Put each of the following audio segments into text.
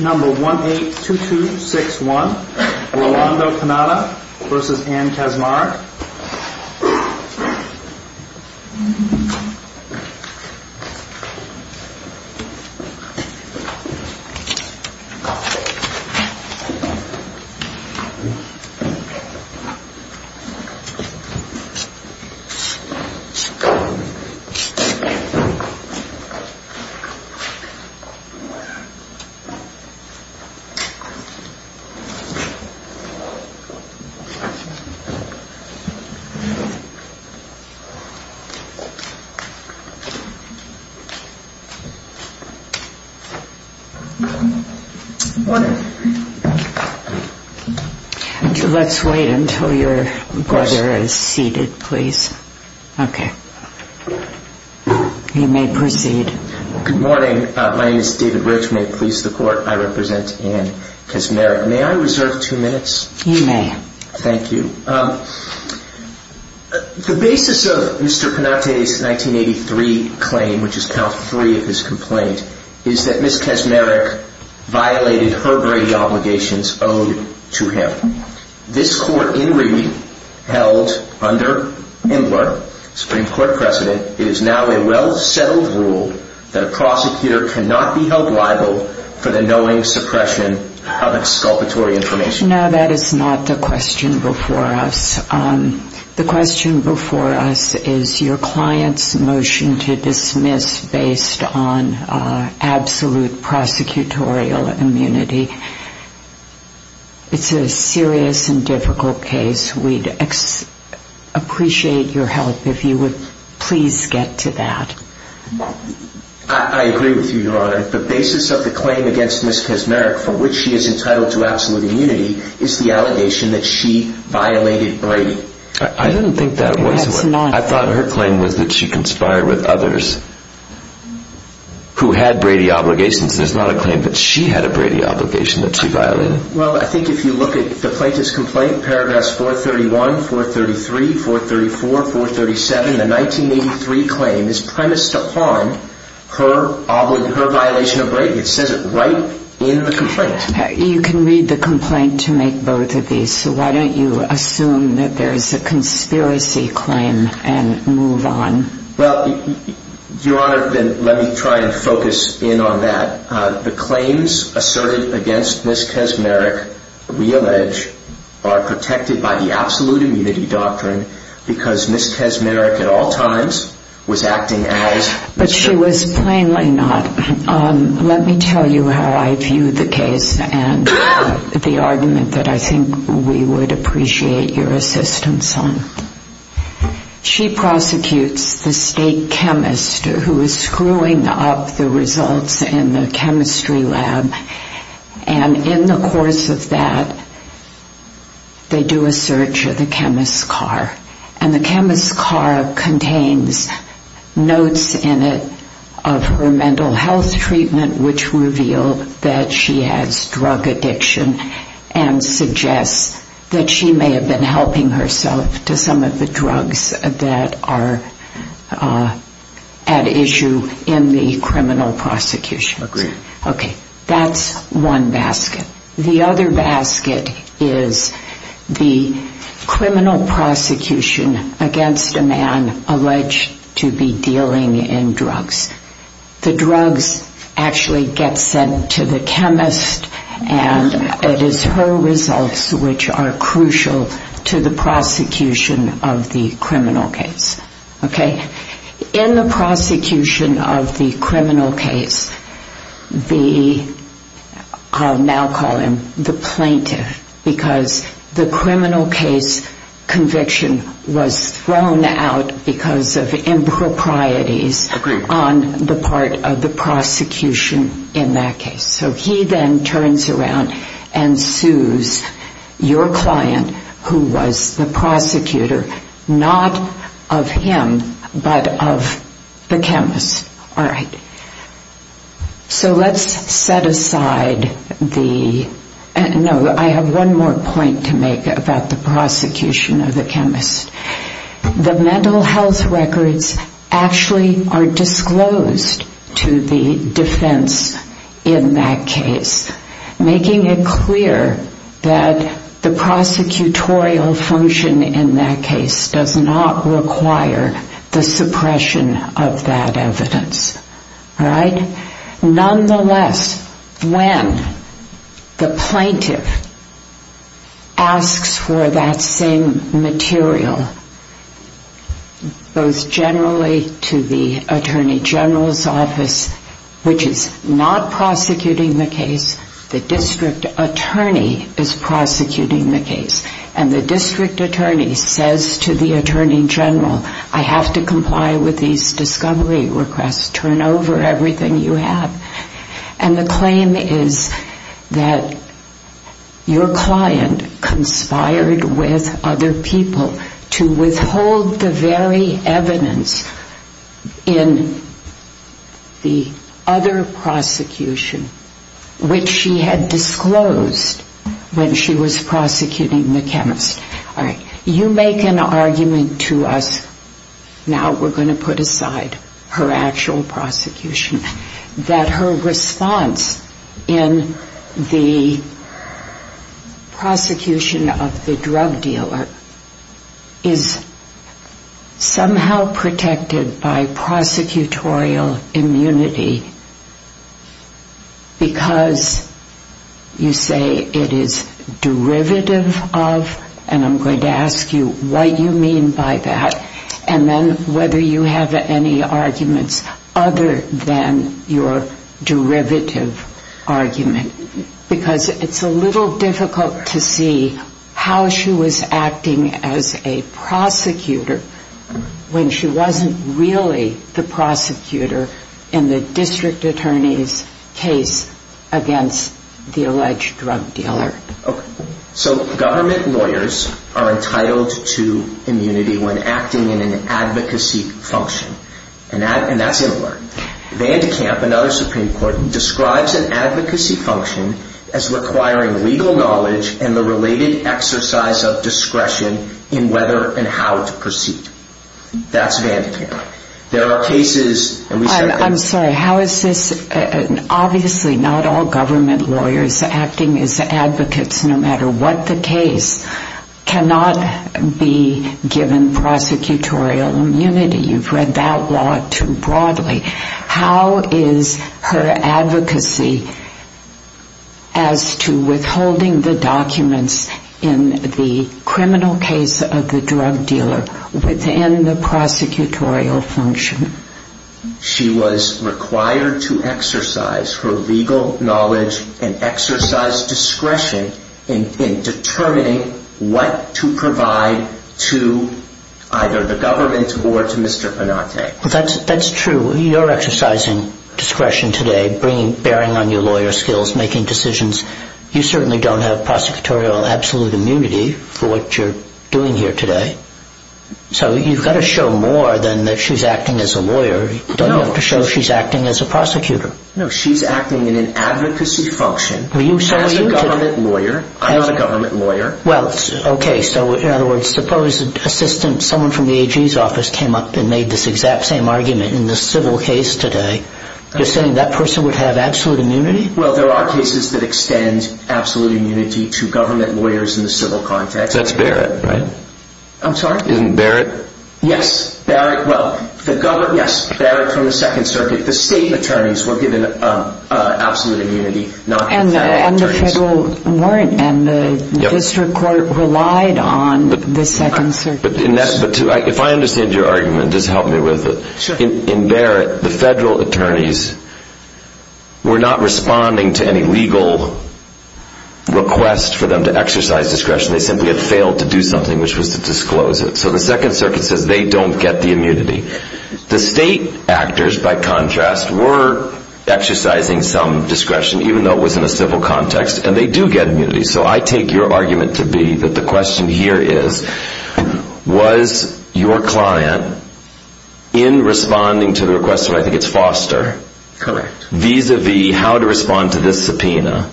Number 182261, Rolando Canata v. Anne Kaczmarek Good morning. Let's wait until your brother is seated, please. Okay. You may proceed. Good morning. My name is David Rich. May it please the Court, I represent Anne Kaczmarek. May I reserve two minutes? You may. Thank you. The basis of Mr. Panate's 1983 claim, which is count three of his complaint, is that Ms. Kaczmarek violated her Brady obligations owed to him. This Court, in reading, held under Imler, Supreme Court President, it is now a well-settled rule that a prosecutor cannot be held liable for the knowing suppression of exculpatory information. Mr. Canata, that is not the question before us. The question before us is your client's motion to dismiss based on absolute prosecutorial immunity. It's a serious and difficult case. We'd appreciate your help if you would please get to that. I agree with you, Your Honor. The basis of the claim against Ms. Kaczmarek, for which she is entitled to absolute immunity, is the allegation that she violated Brady. I didn't think that was the case. I thought her claim was that she conspired with others who had Brady obligations. There's not a claim that she had a Brady obligation that she violated. Well, I think if you look at the plaintiff's complaint, paragraphs 431, 433, 434, 437, the 1983 claim is premised upon her violation of Brady. It says it right in the complaint. You can read the complaint to make both of these, so why don't you assume that there is a conspiracy claim and move on? Well, Your Honor, let me try and focus in on that. The claims asserted against Ms. Kaczmarek, we allege, are protected by the absolute immunity doctrine because Ms. Kaczmarek at all times was acting as... She prosecutes the state chemist who is screwing up the results in the chemistry lab, and in the course of that, they do a search of the chemist's car. And the chemist's car contains notes in it of her mental health treatment, which revealed that she has drug addiction and suggests that she may have been helping herself to some of the drugs that are at issue in the criminal prosecution. Okay, that's one basket. The other basket is the criminal prosecution against a man alleged to be dealing in drugs. The drugs actually get sent to the chemist, and it is her results which are crucial to the prosecution of the criminal case. In the prosecution of the criminal case, I'll now call him the plaintiff, because the criminal case conviction was thrown out because of improprieties on the part of the prosecution in that case. So he then turns around and sues your client, who was the prosecutor, not of him, but of the chemist. So let's set aside the... No, I have one more point to make about the prosecution of the chemist. The mental health records actually are disclosed to the defense in that case, making it clear that the prosecutorial function in that case does not require the suppression of that evidence. Nonetheless, when the plaintiff asks for that same material, both generally to the attorney general's office, which is not prosecuting the case, the district attorney is prosecuting the case. And the district attorney says to the attorney general, I have to comply with these discovery requests. Turn over everything you have. And the claim is that your client conspired with other people to withhold the very evidence in the other prosecution, which she had disclosed when she was prosecuting the chemist. You make an argument to us, now we're going to put aside her actual prosecution, that her response in the prosecution of the drug dealer is somehow protected by prosecutorial immunity because you say it is derivative of evidence. And I'm going to ask you what you mean by that, and then whether you have any arguments other than your derivative argument. Because it's a little difficult to see how she was acting as a prosecutor when she wasn't really the prosecutor in the district attorney's case against the alleged drug dealer. So government lawyers are entitled to immunity when acting in an advocacy function. And that's in alert. Vandekamp, another Supreme Court, describes an advocacy function as requiring legal knowledge and the related exercise of discretion in whether and how to proceed. That's Vandekamp. Obviously not all government lawyers acting as advocates, no matter what the case, cannot be given prosecutorial immunity. You've read that law too broadly. How is her advocacy as to withholding the documents in the criminal case of the drug dealer within the prosecutorial function? She was required to exercise her legal knowledge and exercise discretion in determining what to provide to either the government or to Mr. Panate. That's true. You're exercising discretion today, bearing on your lawyer skills, making decisions. You certainly don't have prosecutorial absolute immunity for what you're doing here today. So you've got to show more than that she's acting as a lawyer. You don't have to show she's acting as a prosecutor. No, she's acting in an advocacy function as a government lawyer. I'm not a government lawyer. Suppose someone from the AG's office came up and made this exact same argument in the civil case today. You're saying that person would have absolute immunity? There are cases that extend absolute immunity to government lawyers in the civil context. That's Barrett, right? I'm sorry? Isn't it Barrett? Yes, Barrett from the Second Circuit. The state attorneys were given absolute immunity, not the federal attorneys. And the district court relied on the Second Circuit. If I understand your argument, just help me with it. In Barrett, the federal attorneys were not responding to any legal request for them to exercise discretion. They simply had failed to do something, which was to disclose it. So the Second Circuit says they don't get the immunity. The state actors, by contrast, were exercising some discretion, even though it was in a civil context. And they do get immunity. So I take your argument to be that the question here is, was your client, in responding to the request of I think it's Foster, correct, vis-a-vis how to respond to this subpoena,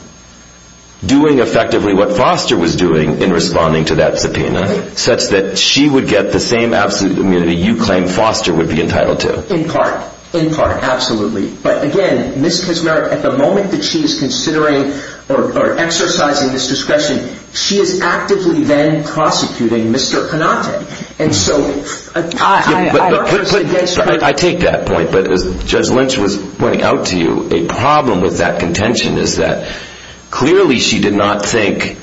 doing effectively what Foster was doing in responding to that subpoena, such that she would get the same absolute immunity you claim Foster would be entitled to? In part. In part. Absolutely. But again, Ms. Kismerick, at the moment that she is considering or exercising this discretion, she is actively then prosecuting Mr. Panate. And so I argue against her. I take that point. But as Judge Lynch was pointing out to you, a problem with that contention is that clearly she did not think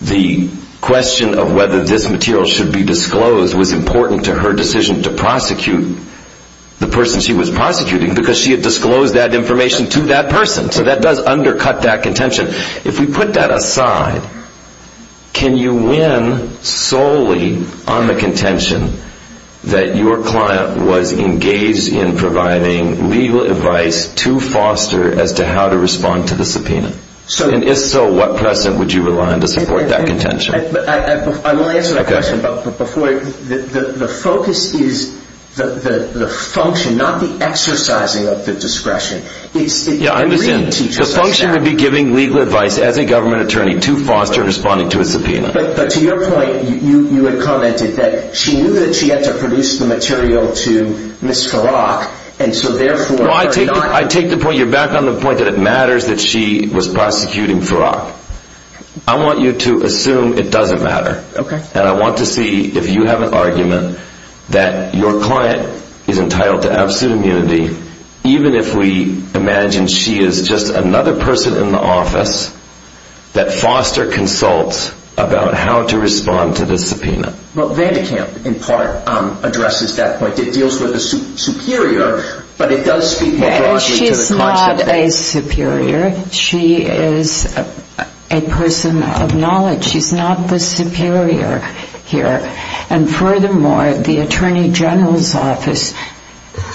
the question of whether this material should be disclosed was important to her decision to prosecute the person she was prosecuting, because she had disclosed that information to that person. So that does undercut that contention. If we put that aside, can you win solely on the contention that your client was engaged in providing legal advice to Foster as to how to respond to the subpoena? And if so, what precedent would you rely on to support that contention? I will answer that question. But before, the focus is the function, not the exercising of the discretion. Yeah, I understand. The function would be giving legal advice as a government attorney to Foster in responding to a subpoena. But to your point, you had commented that she knew that she had to produce the material to Ms. Farrakh, and so therefore... No, I take the point. You're back on the point that it matters that she was prosecuting Farrakh. I want you to assume it doesn't matter. And I want to see if you have an argument that your client is entitled to absolute immunity even if we imagine she is just another person in the office that Foster consults about how to respond to the subpoena. Well, Vandekamp, in part, addresses that point. It deals with the superior, but it does speak more broadly to the conscience. She's not a superior. She is a person of knowledge. She's not the superior here. And furthermore, the attorney general's office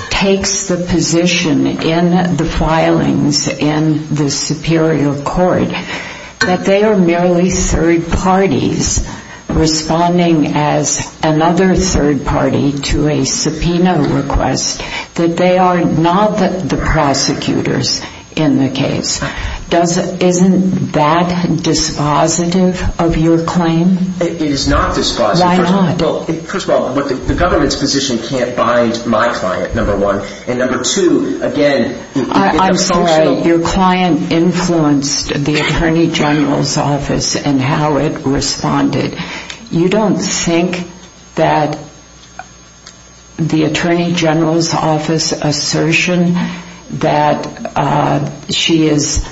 takes the position in the filings in the superior court that they are merely third parties responding as another third party to a subpoena request, that they are not the prosecutors in the case. Isn't that dispositive of your claim? It is not dispositive. Why not? First of all, the government's position can't bind my client, number one. And number two, again... I'm sorry. Your client influenced the attorney general's office and how it responded. You don't think that the attorney general's office assertion that she is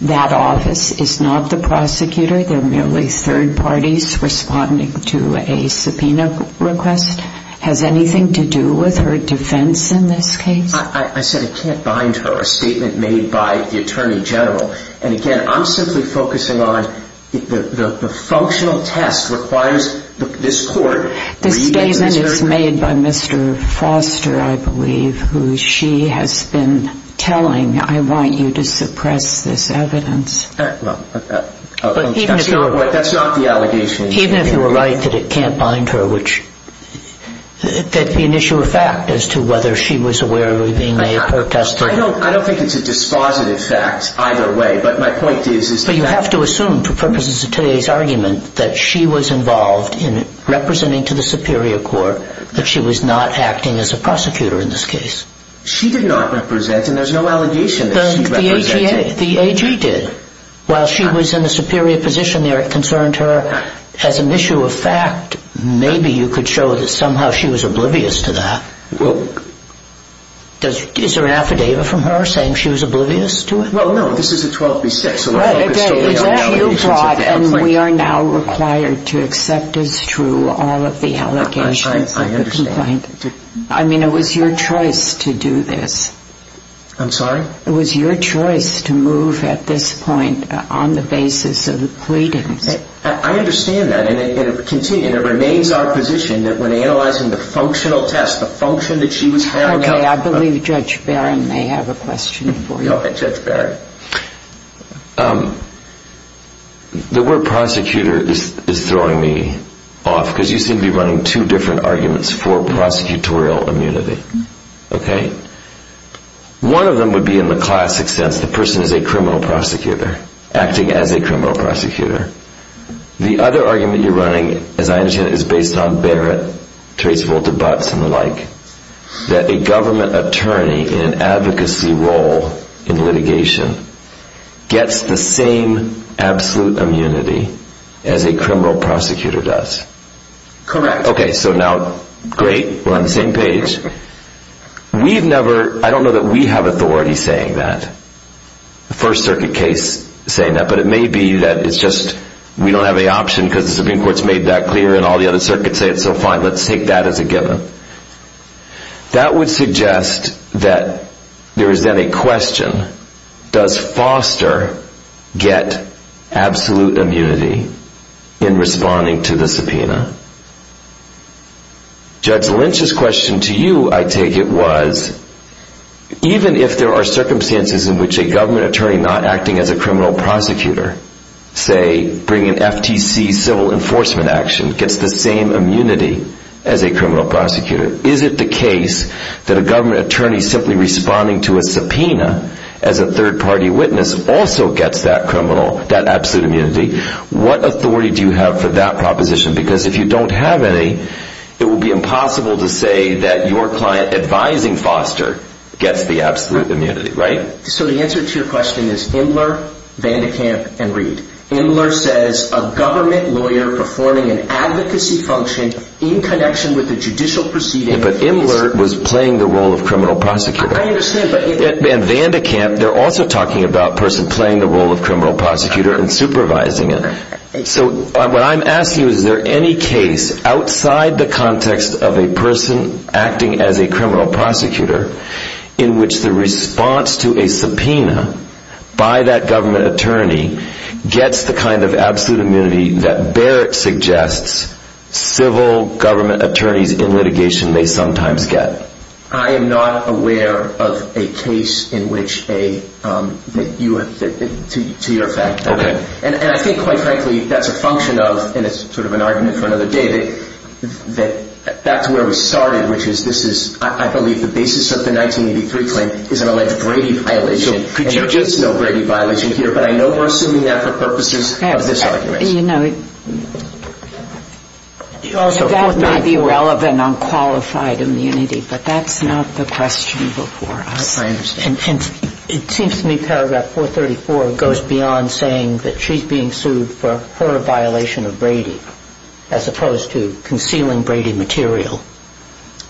that office is not the prosecutor? They're merely third parties responding to a subpoena request? Has anything to do with her defense in this case? I said it can't bind her, a statement made by the attorney general. And again, I'm simply focusing on the functional test requires this court... The statement is made by Mr. Foster, I believe, who she has been telling, I want you to suppress this evidence. That's not the allegation. Even if you were right that it can't bind her, that would be an issue of fact as to whether she was aware of being made a protestor. I don't think it's a dispositive fact either way, but my point is... But you have to assume, for purposes of today's argument, that she was involved in representing to the superior court that she was not acting as a prosecutor in this case. She did not represent, and there's no allegation that she represented. The AG did. While she was in a superior position there, it concerned her. As an issue of fact, maybe you could show that somehow she was oblivious to that. Well... Is there an affidavit from her saying she was oblivious to it? Well, no, this is a 12B6, so... Is that what you brought, and we are now required to accept as true all of the allegations of the complaint? I understand. I mean, it was your choice to do this. I'm sorry? It was your choice to move at this point on the basis of the pleadings. I understand that, and it remains our position that when analyzing the functional test, the function that she was carrying out... Okay, I believe Judge Barron may have a question for you. Go ahead, Judge Barron. The word prosecutor is throwing me off, because you seem to be running two different arguments for prosecutorial immunity. Okay? One of them would be in the classic sense, the person is a criminal prosecutor, acting as a criminal prosecutor. The other argument you're running, as I understand it, is based on Barrett, Terese Volter-Butts, and the like, that a government attorney in an advocacy role in litigation gets the same absolute immunity as a criminal prosecutor does. Correct. Okay, so now, great, we're on the same page. We've never... I don't know that we have authority saying that, the First Circuit case saying that, but it may be that it's just we don't have any option because the Supreme Court's made that clear and all the other circuits say it, so fine, let's take that as a given. That would suggest that there is then a question, does Foster get absolute immunity in responding to the subpoena? Judge Lynch's question to you, I take it, was, even if there are circumstances in which a government attorney not acting as a criminal prosecutor, say, bringing FTC civil enforcement action, gets the same immunity as a criminal prosecutor, is it the case that a government attorney simply responding to a subpoena as a third party witness also gets that absolute immunity? What authority do you have for that proposition? Because if you don't have any, it would be impossible to say that your client advising Foster gets the absolute immunity, right? So the answer to your question is Imler, Vandekamp, and Reed. Imler says a government lawyer performing an advocacy function in connection with a judicial proceeding... But Imler was playing the role of criminal prosecutor. I understand, but... And Vandekamp, they're also talking about a person playing the role of criminal prosecutor and supervising it. So what I'm asking you is, is there any case outside the context of a person acting as a criminal prosecutor in which the response to a subpoena by that government attorney gets the kind of absolute immunity that Barrett suggests civil government attorneys in litigation may sometimes get? I am not aware of a case in which a... To your effect. Okay. And I think, quite frankly, that's a function of, and it's sort of an argument for another day, that that's where we started, which is this is, I believe, the basis of the 1983 claim is an alleged Brady violation. So could you just... There's no Brady violation here, but I know we're assuming that for purposes of this argument. You know, that may be relevant on qualified immunity, but that's not the question before us. I understand. And it seems to me paragraph 434 goes beyond saying that she's being sued for her violation of Brady as opposed to concealing Brady material.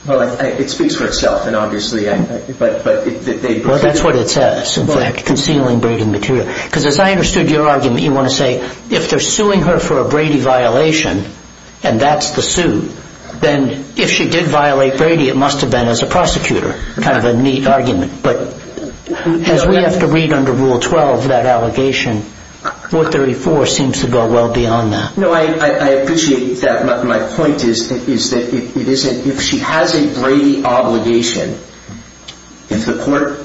Well, it speaks for itself, and obviously... Well, that's what it says, in fact, concealing Brady material. Because as I understood your argument, you want to say, if they're suing her for a Brady violation and that's the suit, then if she did violate Brady, it must have been as a prosecutor. Kind of a neat argument. But as we have to read under Rule 12, that allegation, 434 seems to go well beyond that. No, I appreciate that. My point is that if she has a Brady obligation, if the court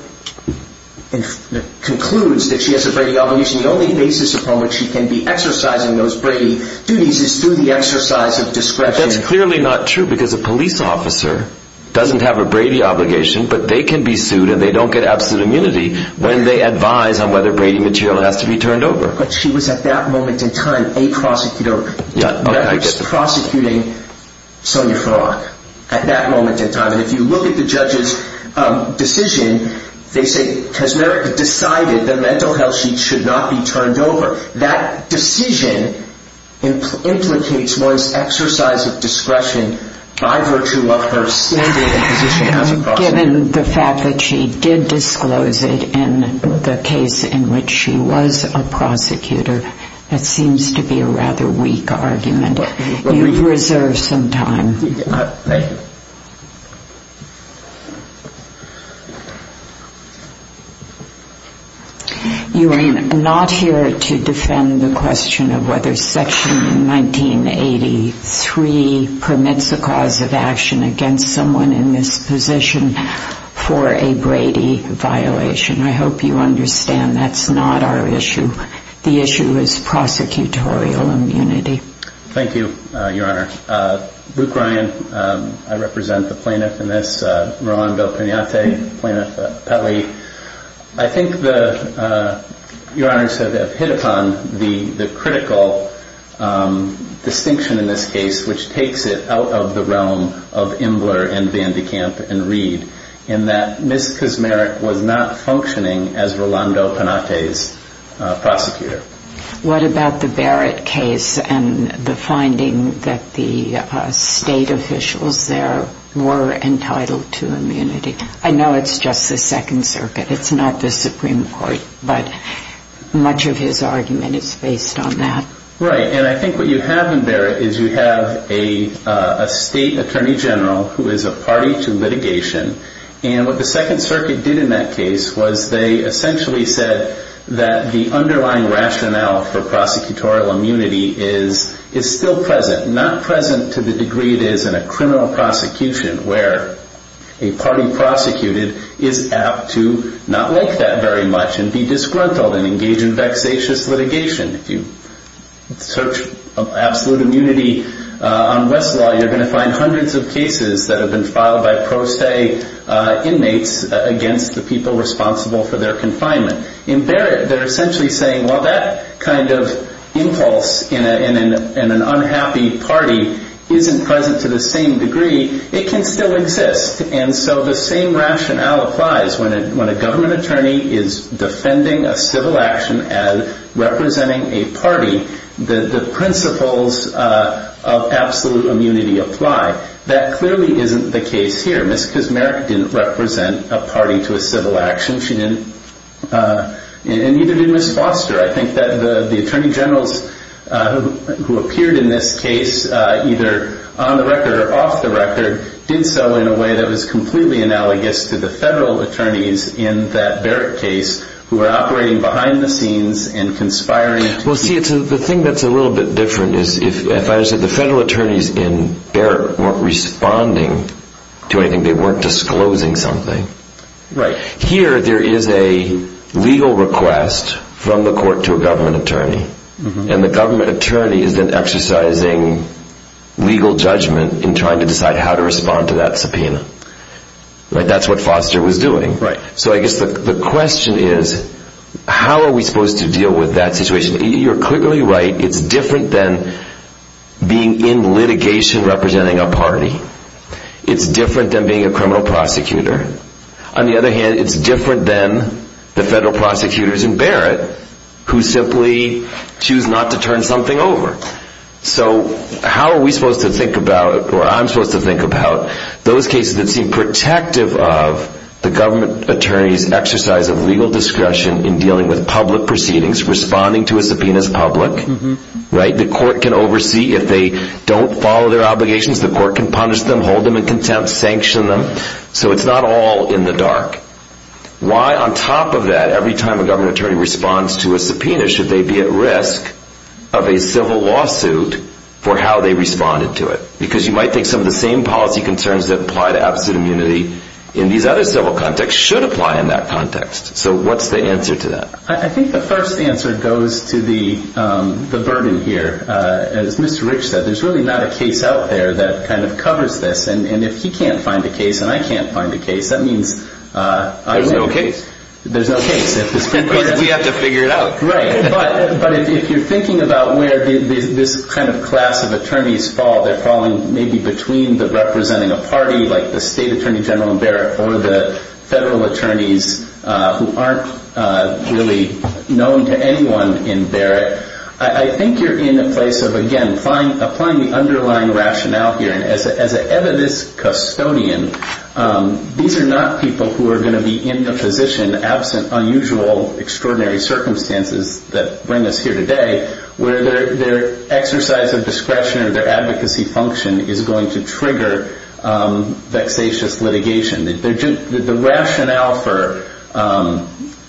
concludes that she has a Brady obligation, the only basis upon which she can be exercising those Brady duties is through the exercise of discretion. But that's clearly not true, because a police officer doesn't have a Brady obligation, but they can be sued and they don't get absolute immunity when they advise on whether Brady material has to be turned over. But she was, at that moment in time, a prosecutor. Yeah, okay, I get the point. Prosecuting Sonia Frank at that moment in time. And if you look at the judge's decision, they say, because Merrick decided the mental health sheet should not be turned over. That decision implicates one's exercise of discretion by virtue of her standing position as a prosecutor. Given the fact that she did disclose it in the case in which she was a prosecutor, it seems to be a rather weak argument. You've reserved some time. Thank you. You are not here to defend the question of whether Section 1983 permits the cause of action against someone in this position for a Brady violation. I hope you understand that's not our issue. The issue is prosecutorial immunity. Thank you, Your Honor. Luke Ryan, I represent the plaintiff in this. Rolando Pinate, Plaintiff Petley. I think Your Honor has hit upon the critical distinction in this case, which takes it out of the realm of Imbler and Van de Kamp and Reed, in that Ms. Kismerick was not functioning as Rolando Pinate's prosecutor. What about the Barrett case and the finding that the state officials there were entitled to immunity? I know it's just the Second Circuit. It's not the Supreme Court. But much of his argument is based on that. Right. And I think what you have in Barrett is you have a state attorney general who is a party to litigation. And what the Second Circuit did in that case was they essentially said that the underlying rationale for prosecutorial immunity is still present, not present to the degree it is in a criminal prosecution where a party prosecuted is apt to not like that very much and be disgruntled and engage in vexatious litigation. If you search absolute immunity on Westlaw, you're going to find hundreds of cases that have been filed by pro se inmates against the people responsible for their confinement. In Barrett, they're essentially saying, well, that kind of impulse in an unhappy party isn't present to the same degree. It can still exist. And so the same rationale applies. When a government attorney is defending a civil action as representing a party, the principles of absolute immunity apply. That clearly isn't the case here. Ms. Kazmarek didn't represent a party to a civil action. She didn't. And neither did Ms. Foster. I think that the attorney generals who appeared in this case, either on the record or off the record, did so in a way that was completely analogous to the federal attorneys in that Barrett case who were operating behind the scenes and conspiring. Well, see, the thing that's a little bit different is, if I understand it, the federal attorneys in Barrett weren't responding to anything. They weren't disclosing something. Right. Here there is a legal request from the court to a government attorney, and the government attorney is then exercising legal judgment in trying to decide how to respond to that subpoena. That's what Foster was doing. Right. So I guess the question is, how are we supposed to deal with that situation? You're clearly right. It's different than being in litigation representing a party. It's different than being a criminal prosecutor. On the other hand, it's different than the federal prosecutors in Barrett who simply choose not to turn something over. So how are we supposed to think about, or I'm supposed to think about, those cases that seem protective of the government attorney's exercise of legal discretion in dealing with public proceedings, responding to a subpoena as public. The court can oversee. If they don't follow their obligations, the court can punish them, hold them in contempt, sanction them. So it's not all in the dark. Why, on top of that, every time a government attorney responds to a subpoena, should they be at risk of a civil lawsuit for how they responded to it? Because you might think some of the same policy concerns that apply to absolute immunity in these other civil contexts should apply in that context. So what's the answer to that? I think the first answer goes to the burden here. As Mr. Rich said, there's really not a case out there that kind of covers this. And if he can't find a case and I can't find a case, that means I win the case. There's no case. There's no case. We have to figure it out. Right. But if you're thinking about where this kind of class of attorneys fall, they're falling maybe between representing a party like the state attorney general in Barrett or the federal attorneys who aren't really known to anyone in Barrett. I think you're in a place of, again, applying the underlying rationale here. And as an evidence custodian, these are not people who are going to be in the position, absent unusual extraordinary circumstances that bring us here today, where their exercise of discretion or their advocacy function is going to trigger vexatious litigation. The rationale for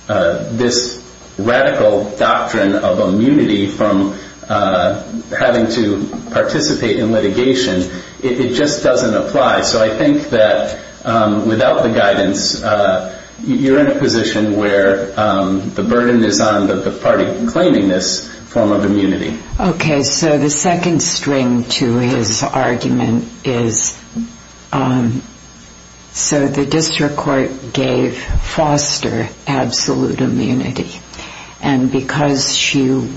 this radical doctrine of immunity from having to participate in litigation, it just doesn't apply. So I think that without the guidance, you're in a position where the burden is on the party claiming this form of immunity. Okay. So the second string to his argument is, so the district court gave Foster absolute immunity. And because she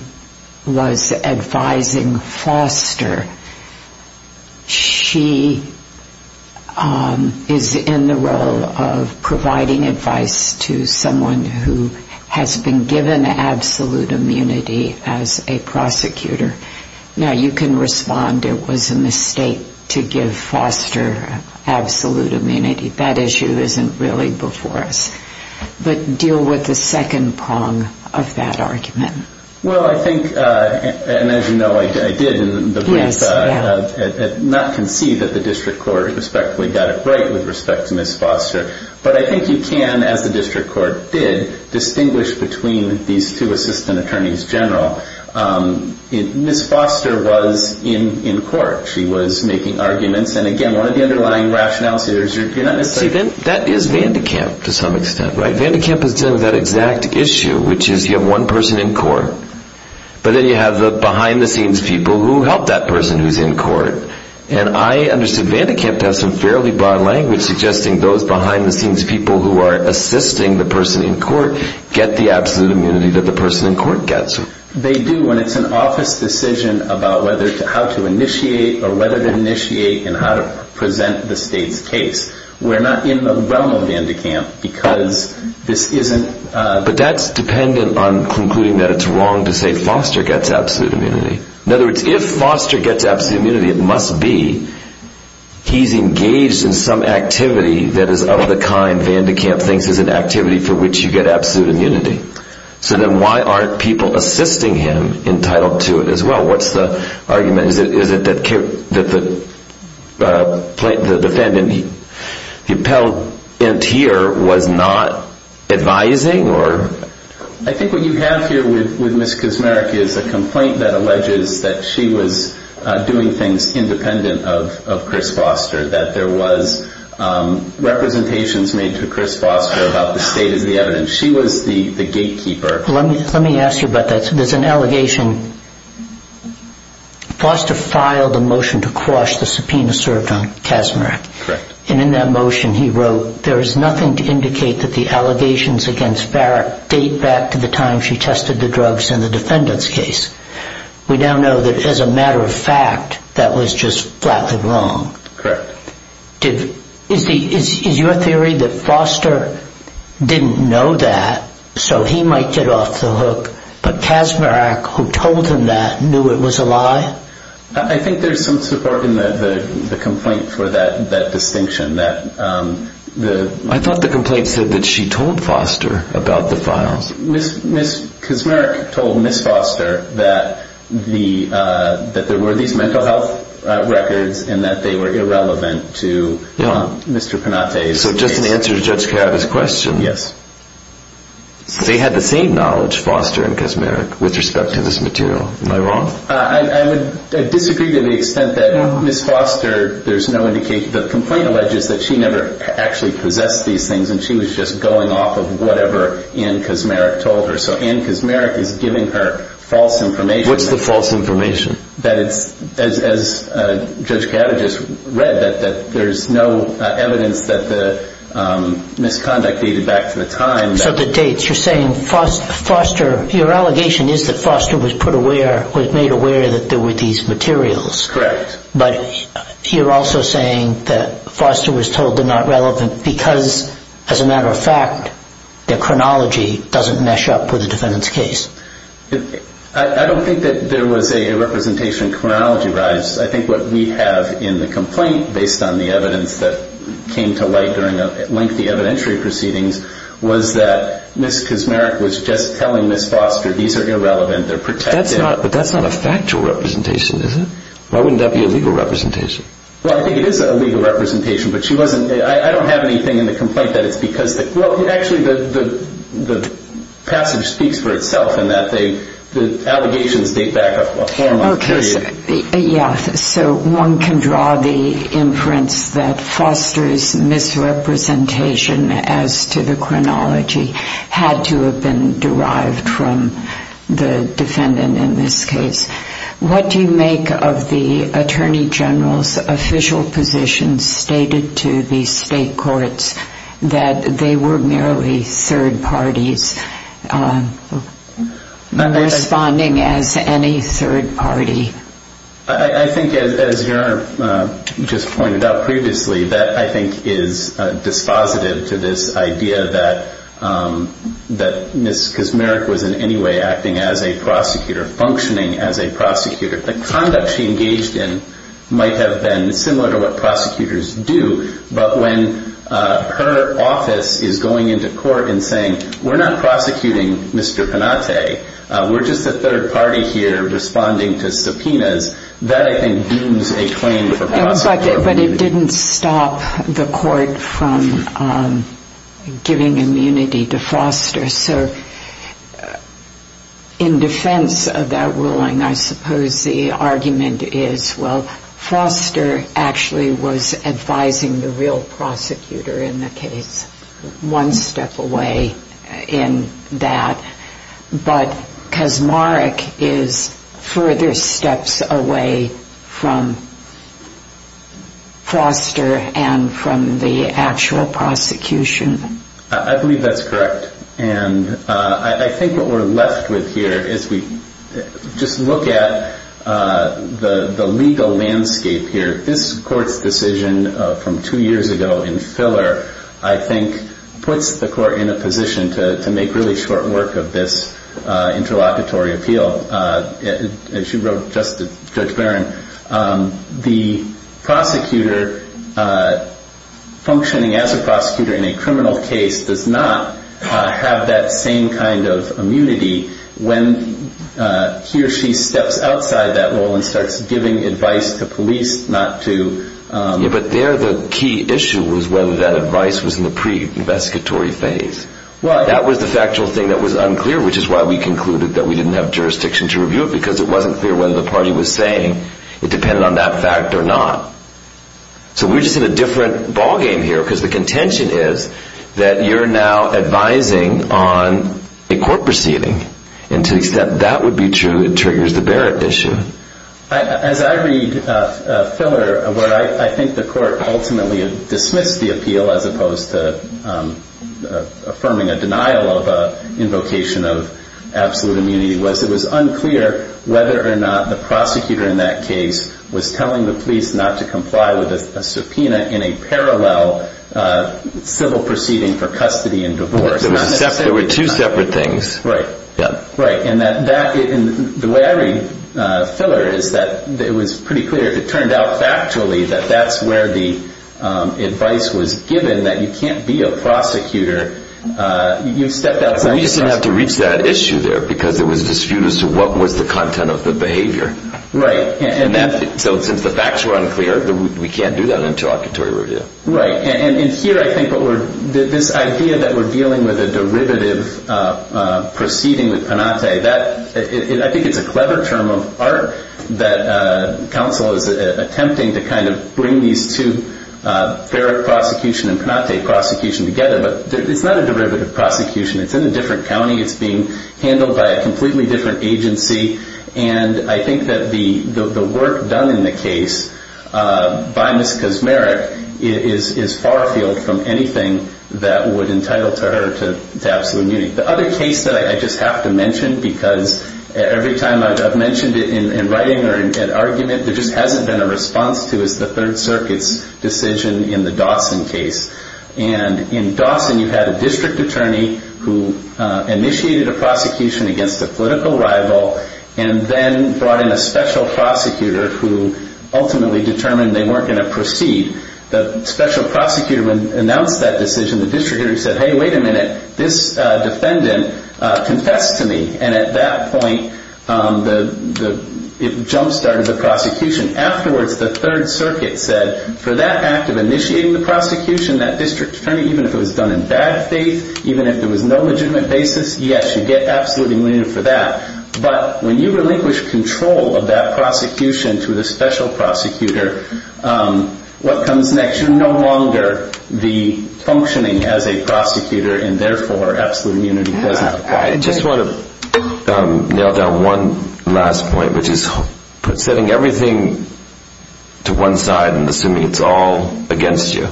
was advising Foster, she is in the role of providing advice to someone who has been given absolute immunity as a prosecutor. Now, you can respond it was a mistake to give Foster absolute immunity. That issue isn't really before us. But deal with the second prong of that argument. Well, I think, and as you know, I did in the brief, not concede that the district court respectfully got it right with respect to Ms. Foster. But I think you can, as the district court did, distinguish between these two assistant attorneys general. Ms. Foster was in court. She was making arguments. And again, one of the underlying rationales here is you're not necessarily See, that is Vandekamp to some extent, right? You have one person in court. But then you have the behind-the-scenes people who help that person who's in court. And I understood Vandekamp to have some fairly broad language suggesting those behind-the-scenes people who are assisting the person in court get the absolute immunity that the person in court gets. They do when it's an office decision about how to initiate or whether to initiate and how to present the state's case. We're not in the realm of Vandekamp because this isn't But that's dependent on concluding that it's wrong to say Foster gets absolute immunity. In other words, if Foster gets absolute immunity, it must be he's engaged in some activity that is of the kind Vandekamp thinks is an activity for which you get absolute immunity. So then why aren't people assisting him entitled to it as well? What's the argument? Is it that the defendant, the appellant here, was not advising? I think what you have here with Ms. Kusmarek is a complaint that alleges that she was doing things independent of Chris Foster, that there was representations made to Chris Foster about the state as the evidence. She was the gatekeeper. Let me ask you about that. There's an allegation. Foster filed a motion to quash the subpoena served on Kusmarek. And in that motion he wrote, there is nothing to indicate that the allegations against Barrett date back to the time she tested the drugs in the defendant's case. We now know that as a matter of fact that was just flatly wrong. Is your theory that Foster didn't know that so he might get off the hook, but Kusmarek, who told him that, knew it was a lie? I think there's some support in the complaint for that distinction. I thought the complaint said that she told Foster about the files. Ms. Kusmarek told Ms. Foster that there were these mental health records and that they were irrelevant to Mr. Panate's case. Okay, so just an answer to Judge Kiyota's question. Yes. They had the same knowledge, Foster and Kusmarek, with respect to this material. Am I wrong? I disagree to the extent that Ms. Foster, there's no indication. The complaint alleges that she never actually possessed these things and she was just going off of whatever Ann Kusmarek told her. So Ann Kusmarek is giving her false information. What's the false information? That it's, as Judge Kiyota just read, that there's no evidence that the misconduct dated back to the time. So the dates, you're saying Foster, your allegation is that Foster was put aware, was made aware that there were these materials. Correct. But you're also saying that Foster was told they're not relevant because, as a matter of fact, their chronology doesn't mesh up with the defendant's case. I don't think that there was a representation chronology-wise. I think what we have in the complaint, based on the evidence that came to light during lengthy evidentiary proceedings, was that Ms. Kusmarek was just telling Ms. Foster, these are irrelevant, they're protected. But that's not a factual representation, is it? Why wouldn't that be a legal representation? Well, I think it is a legal representation, but she wasn't, I don't have anything in the complaint that it's because, well, actually the passage speaks for itself in that the allegations date back a formal period. Okay. Yeah, so one can draw the inference that Foster's misrepresentation as to the chronology had to have been derived from the defendant in this case. What do you make of the Attorney General's official position stated to the state courts that they were merely third parties responding as any third party? I think, as you just pointed out previously, that I think is dispositive to this idea that Ms. Kusmarek was in any way acting as a prosecutor, functioning as a prosecutor. The conduct she engaged in might have been similar to what prosecutors do, but when her office is going into court and saying, we're not prosecuting Mr. Panate, we're just a third party here responding to subpoenas, that I think deems a claim for prosecution. But it didn't stop the court from giving immunity to Foster. So in defense of that ruling, I suppose the argument is, well, Foster actually was advising the real prosecutor in the case, one step away in that. But Kusmarek is further steps away from Foster and from the actual prosecution. I believe that's correct. And I think what we're left with here is we just look at the legal landscape here. This court's decision from two years ago in filler, I think, puts the court in a position to make really short work of this interlocutory appeal. As you wrote, Judge Barron, the prosecutor functioning as a prosecutor in a criminal case does not have that same kind of immunity when he or she steps outside that role and starts giving advice to police not to- But there the key issue was whether that advice was in the pre-investigatory phase. That was the factual thing that was unclear, which is why we concluded that we didn't have jurisdiction to review it, because it wasn't clear whether the party was saying it depended on that fact or not. So we're just in a different ballgame here, because the contention is that you're now advising on a court proceeding. And to the extent that would be true, it triggers the Barrett issue. As I read filler, where I think the court ultimately dismissed the appeal as opposed to affirming a denial of an invocation of absolute immunity, was it was unclear whether or not the prosecutor in that case was telling the police not to comply with a subpoena in a parallel civil proceeding for custody and divorce. There were two separate things. Right. Right. And the way I read filler is that it was pretty clear. It turned out factually that that's where the advice was given, that you can't be a prosecutor. You stepped outside- We just didn't have to reach that issue there, because there was a dispute as to what was the content of the behavior. Right. So since the facts were unclear, we can't do that interlocutory review. Right. And here I think this idea that we're dealing with a derivative proceeding with Panate, I think it's a clever term of art that counsel is attempting to kind of bring these two, Barrett prosecution and Panate prosecution together, but it's not a derivative prosecution. It's in a different county. It's being handled by a completely different agency. And I think that the work done in the case by Ms. Kazmarek is far-field from anything that would entitle her to absolute immunity. The other case that I just have to mention, because every time I've mentioned it in writing or in argument, there just hasn't been a response to is the Third Circuit's decision in the Dawson case. And in Dawson, you had a district attorney who initiated a prosecution against a political rival and then brought in a special prosecutor who ultimately determined they weren't going to proceed. The special prosecutor announced that decision. The district attorney said, hey, wait a minute. This defendant confessed to me. And at that point, it jump-started the prosecution. Afterwards, the Third Circuit said, for that act of initiating the prosecution, that district attorney, even if it was done in bad faith, even if there was no legitimate basis, yes, you get absolute immunity for that. But when you relinquish control of that prosecution to the special prosecutor, what comes next? You're no longer functioning as a prosecutor and, therefore, absolute immunity doesn't apply. I just want to nail down one last point, which is setting everything to one side and assuming it's all against you.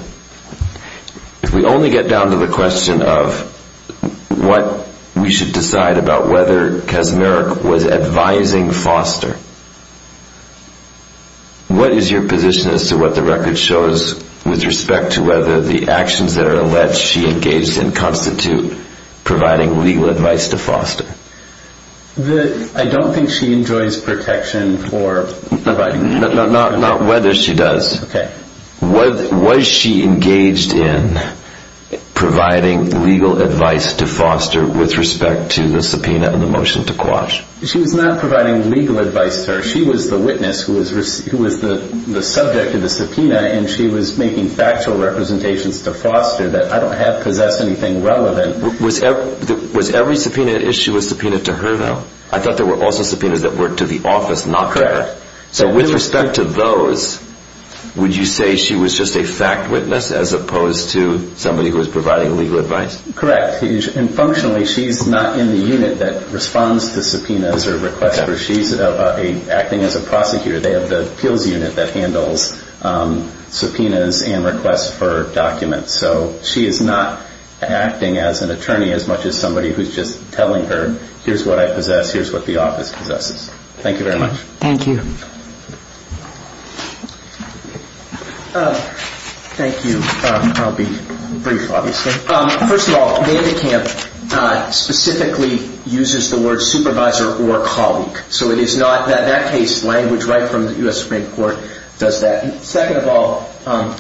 If we only get down to the question of what we should decide about whether Kaczmarek was advising Foster, what is your position as to what the record shows with respect to whether the actions that are alleged she engaged in constitute providing legal advice to Foster? I don't think she enjoys protection for providing legal advice. Not whether she does. Was she engaged in providing legal advice to Foster with respect to the subpoena and the motion to quash? She was not providing legal advice to her. She was the witness who was the subject of the subpoena, and she was making factual representations to Foster that I don't have possessed anything relevant. Was every subpoena issue a subpoena to her, though? I thought there were also subpoenas that were to the office, not her. So with respect to those, would you say she was just a fact witness as opposed to somebody who was providing legal advice? Correct. And, functionally, she's not in the unit that responds to subpoenas or requests for. She's acting as a prosecutor. They have the appeals unit that handles subpoenas and requests for documents. So she is not acting as an attorney as much as somebody who's just telling her, here's what I possess, here's what the office possesses. Thank you very much. Thank you. Thank you. I'll be brief, obviously. First of all, Vandekamp specifically uses the word supervisor or colleague. So it is not, in that case, language right from the U.S. Supreme Court does that. Second of all,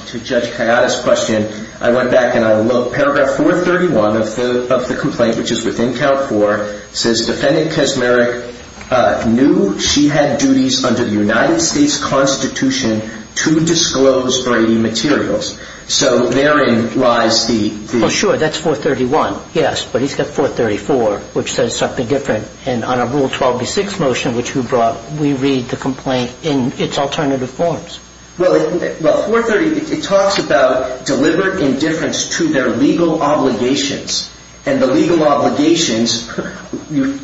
to Judge Kayada's question, I went back and I looked. Paragraph 431 of the complaint, which is within count four, says, Defendant Kaczmarek knew she had duties under the United States Constitution to disclose Brady materials. So therein lies the group. Well, sure. That's 431. Yes. But he's got 434, which says something different. And on a Rule 12B6 motion, which you brought, we read the complaint in its alternative forms. Well, 430, it talks about deliberate indifference to their legal obligations. And the legal obligations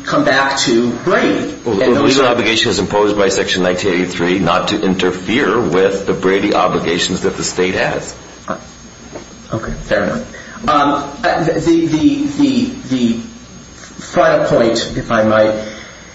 come back to Brady. Well, the legal obligation is imposed by Section 1983 not to interfere with the Brady obligations that the state has. Okay. Fair enough. The final point, if I might,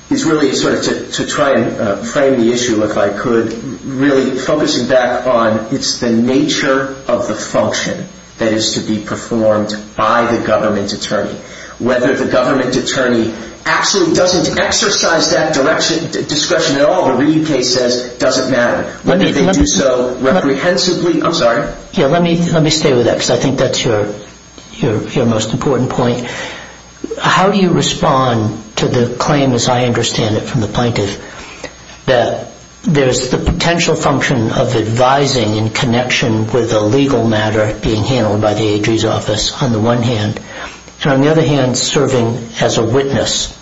is really sort of to try and frame the issue, if I could, really focusing back on it's the nature of the function that is to be performed by the government attorney. Whether the government attorney actually doesn't exercise that discretion at all, the Reid case says, doesn't matter. Whether they do so reprehensibly, I'm sorry. Yeah, let me stay with that because I think that's your most important point. How do you respond to the claim, as I understand it from the plaintiff, that there's the potential function of advising in connection with a legal matter being handled by the AG's office, on the one hand. And on the other hand, serving as a witness.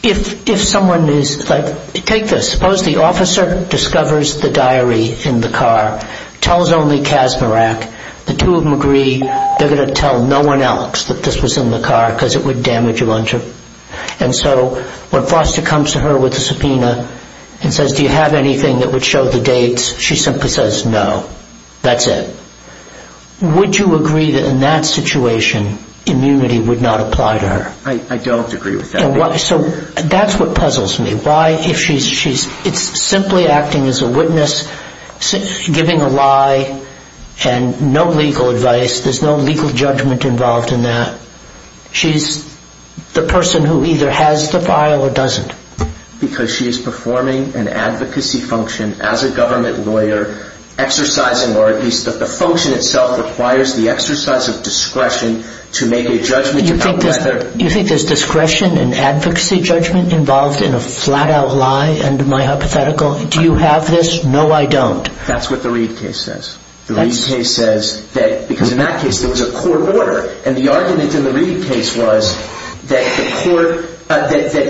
If someone is, like, take this. Suppose the officer discovers the diary in the car, tells only Kaczmarek. The two of them agree they're going to tell no one else that this was in the car because it would damage a luncheon. And so when Foster comes to her with a subpoena and says, do you have anything that would show the dates? She simply says, no. That's it. Would you agree that in that situation, immunity would not apply to her? I don't agree with that. So that's what puzzles me. It's simply acting as a witness, giving a lie, and no legal advice. There's no legal judgment involved in that. She's the person who either has the file or doesn't. Because she is performing an advocacy function as a government lawyer, exercising, or at least the function itself requires the exercise of discretion to make a judgment. You think there's discretion in advocacy judgment involved in a flat-out lie? And my hypothetical, do you have this? No, I don't. That's what the Reed case says. The Reed case says that, because in that case, there was a court order. And the argument in the Reed case was that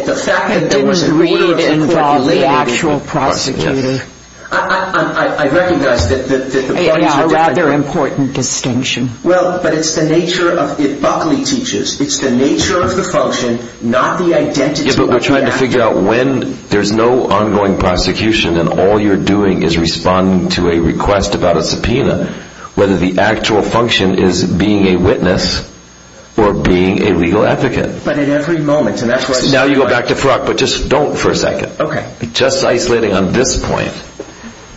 the fact that there was an order of the court related to prosecution. But didn't Reed involve the actual prosecutor? I recognize that the points are different. Yeah, a rather important distinction. Well, but it's the nature of, Buckley teaches, it's the nature of the function, not the identity of the act. Yeah, but we're trying to figure out when there's no ongoing prosecution and all you're doing is responding to a request about a subpoena, whether the actual function is being a witness or being a legal advocate. But at every moment, and that's why I say... Now you go back to Frock, but just don't for a second. Okay. Just isolating on this point,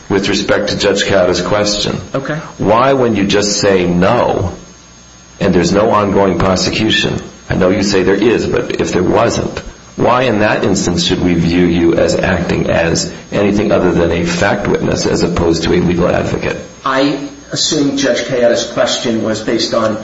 with respect to Judge Cata's question. Okay. Why, when you just say no, and there's no ongoing prosecution, I know you say there is, but if there wasn't, why in that instance should we view you as acting as anything other than a fact witness as opposed to a legal advocate? I assume Judge Cata's question was based on...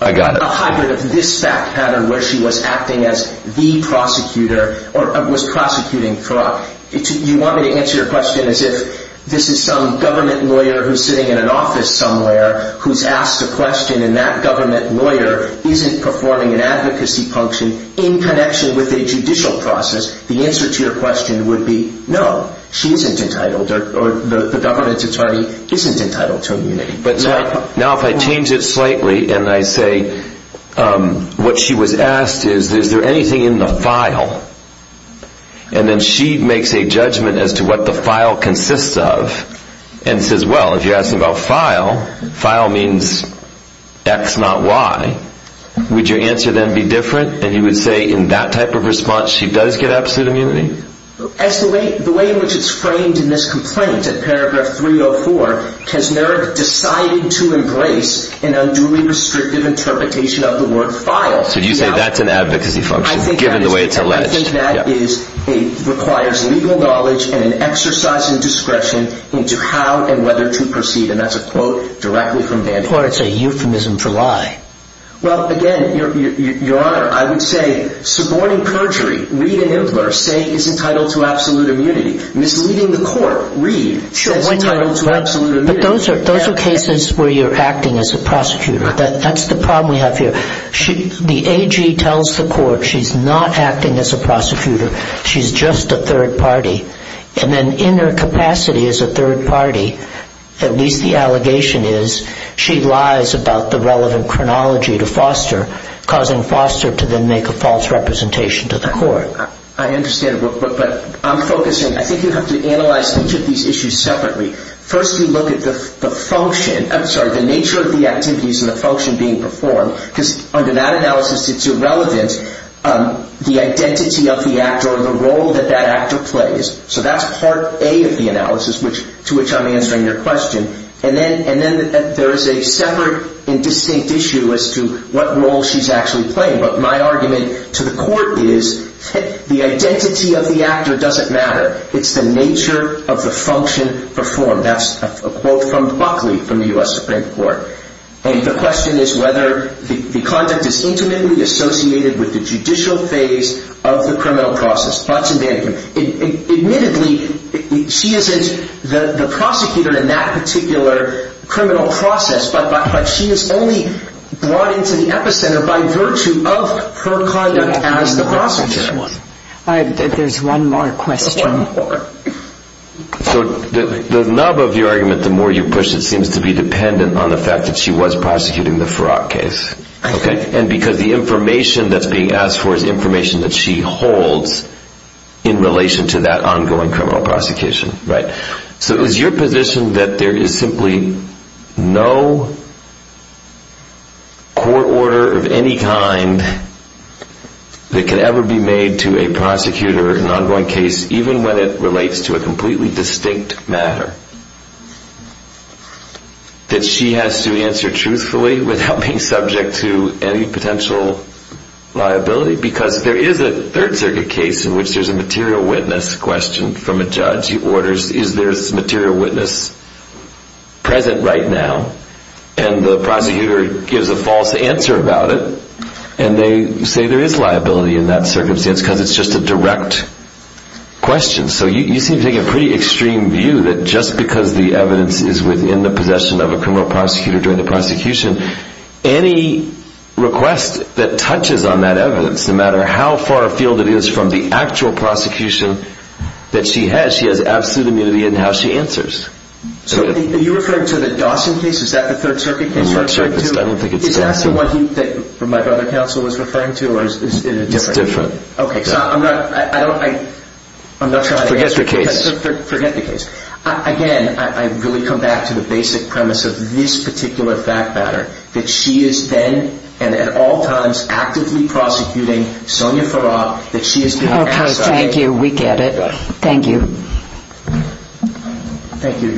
I got it. ...a hybrid of this fact pattern where she was acting as the prosecutor, or was prosecuting Frock. You want me to answer your question as if this is some government lawyer who's sitting in an office somewhere who's asked a question and that government lawyer isn't performing an advocacy function in connection with a judicial process? The answer to your question would be, no, she isn't entitled, or the government's attorney isn't entitled to immunity. But now if I change it slightly and I say, what she was asked is, is there anything in the file? And then she makes a judgment as to what the file consists of and says, well, if you ask about file, file means X, not Y, would your answer then be different? And you would say in that type of response she does get absolute immunity? As the way in which it's framed in this complaint, in paragraph 304, Kesner decided to embrace an unduly restrictive interpretation of the word file. So you say that's an advocacy function, given the way it's alleged. I think that requires legal knowledge and an exercise in discretion into how and whether to proceed. And that's a quote directly from Dandie. Or it's a euphemism for lie. Well, again, Your Honor, I would say suborning perjury, read in inverse, say is entitled to absolute immunity. Misleading the court, read, is entitled to absolute immunity. But those are cases where you're acting as a prosecutor. That's the problem we have here. The AG tells the court she's not acting as a prosecutor. She's just a third party. And then in her capacity as a third party, at least the allegation is, she lies about the relevant chronology to Foster, causing Foster to then make a false representation to the court. I understand. But I'm focusing, I think you have to analyze each of these issues separately. First you look at the function, I'm sorry, the nature of the activities and the function being performed, because under that analysis it's irrelevant the identity of the actor or the role that that actor plays. So that's part A of the analysis to which I'm answering your question. And then there is a separate and distinct issue as to what role she's actually playing. But my argument to the court is the identity of the actor doesn't matter. It's the nature of the function performed. That's a quote from Buckley from the U.S. Supreme Court. And the question is whether the conduct is intimately associated with the judicial phase of the criminal process. Watson-Bannekin. Admittedly, she isn't the prosecutor in that particular criminal process, but she is only brought into the epicenter by virtue of her conduct as the prosecutor. There's one more question. One more. So the nub of your argument, the more you push it, seems to be dependent on the fact that she was prosecuting the Farrakh case. And because the information that's being asked for is information that she holds in relation to that ongoing criminal prosecution. So is your position that there is simply no court order of any kind that can ever be made to a prosecutor, an ongoing case, even when it relates to a completely distinct matter? That she has to answer truthfully without being subject to any potential liability? Because there is a Third Circuit case in which there's a material witness question from a judge. He orders, is there a material witness present right now? And the prosecutor gives a false answer about it. And they say there is liability in that circumstance because it's just a direct question. So you seem to take a pretty extreme view that just because the evidence is within the possession of a criminal prosecutor during the prosecution, any request that touches on that evidence, no matter how far afield it is from the actual prosecution that she has, she has absolute immunity in how she answers. So are you referring to the Dawson case? Is that the Third Circuit case? Is that the one that my brother counsel was referring to or is it a different case? It's different. Forget the case. Forget the case. Again, I really come back to the basic premise of this particular fact matter. That she is then and at all times actively prosecuting Sonia Farrar. That she is... Okay, thank you. We get it. Thank you. Thank you.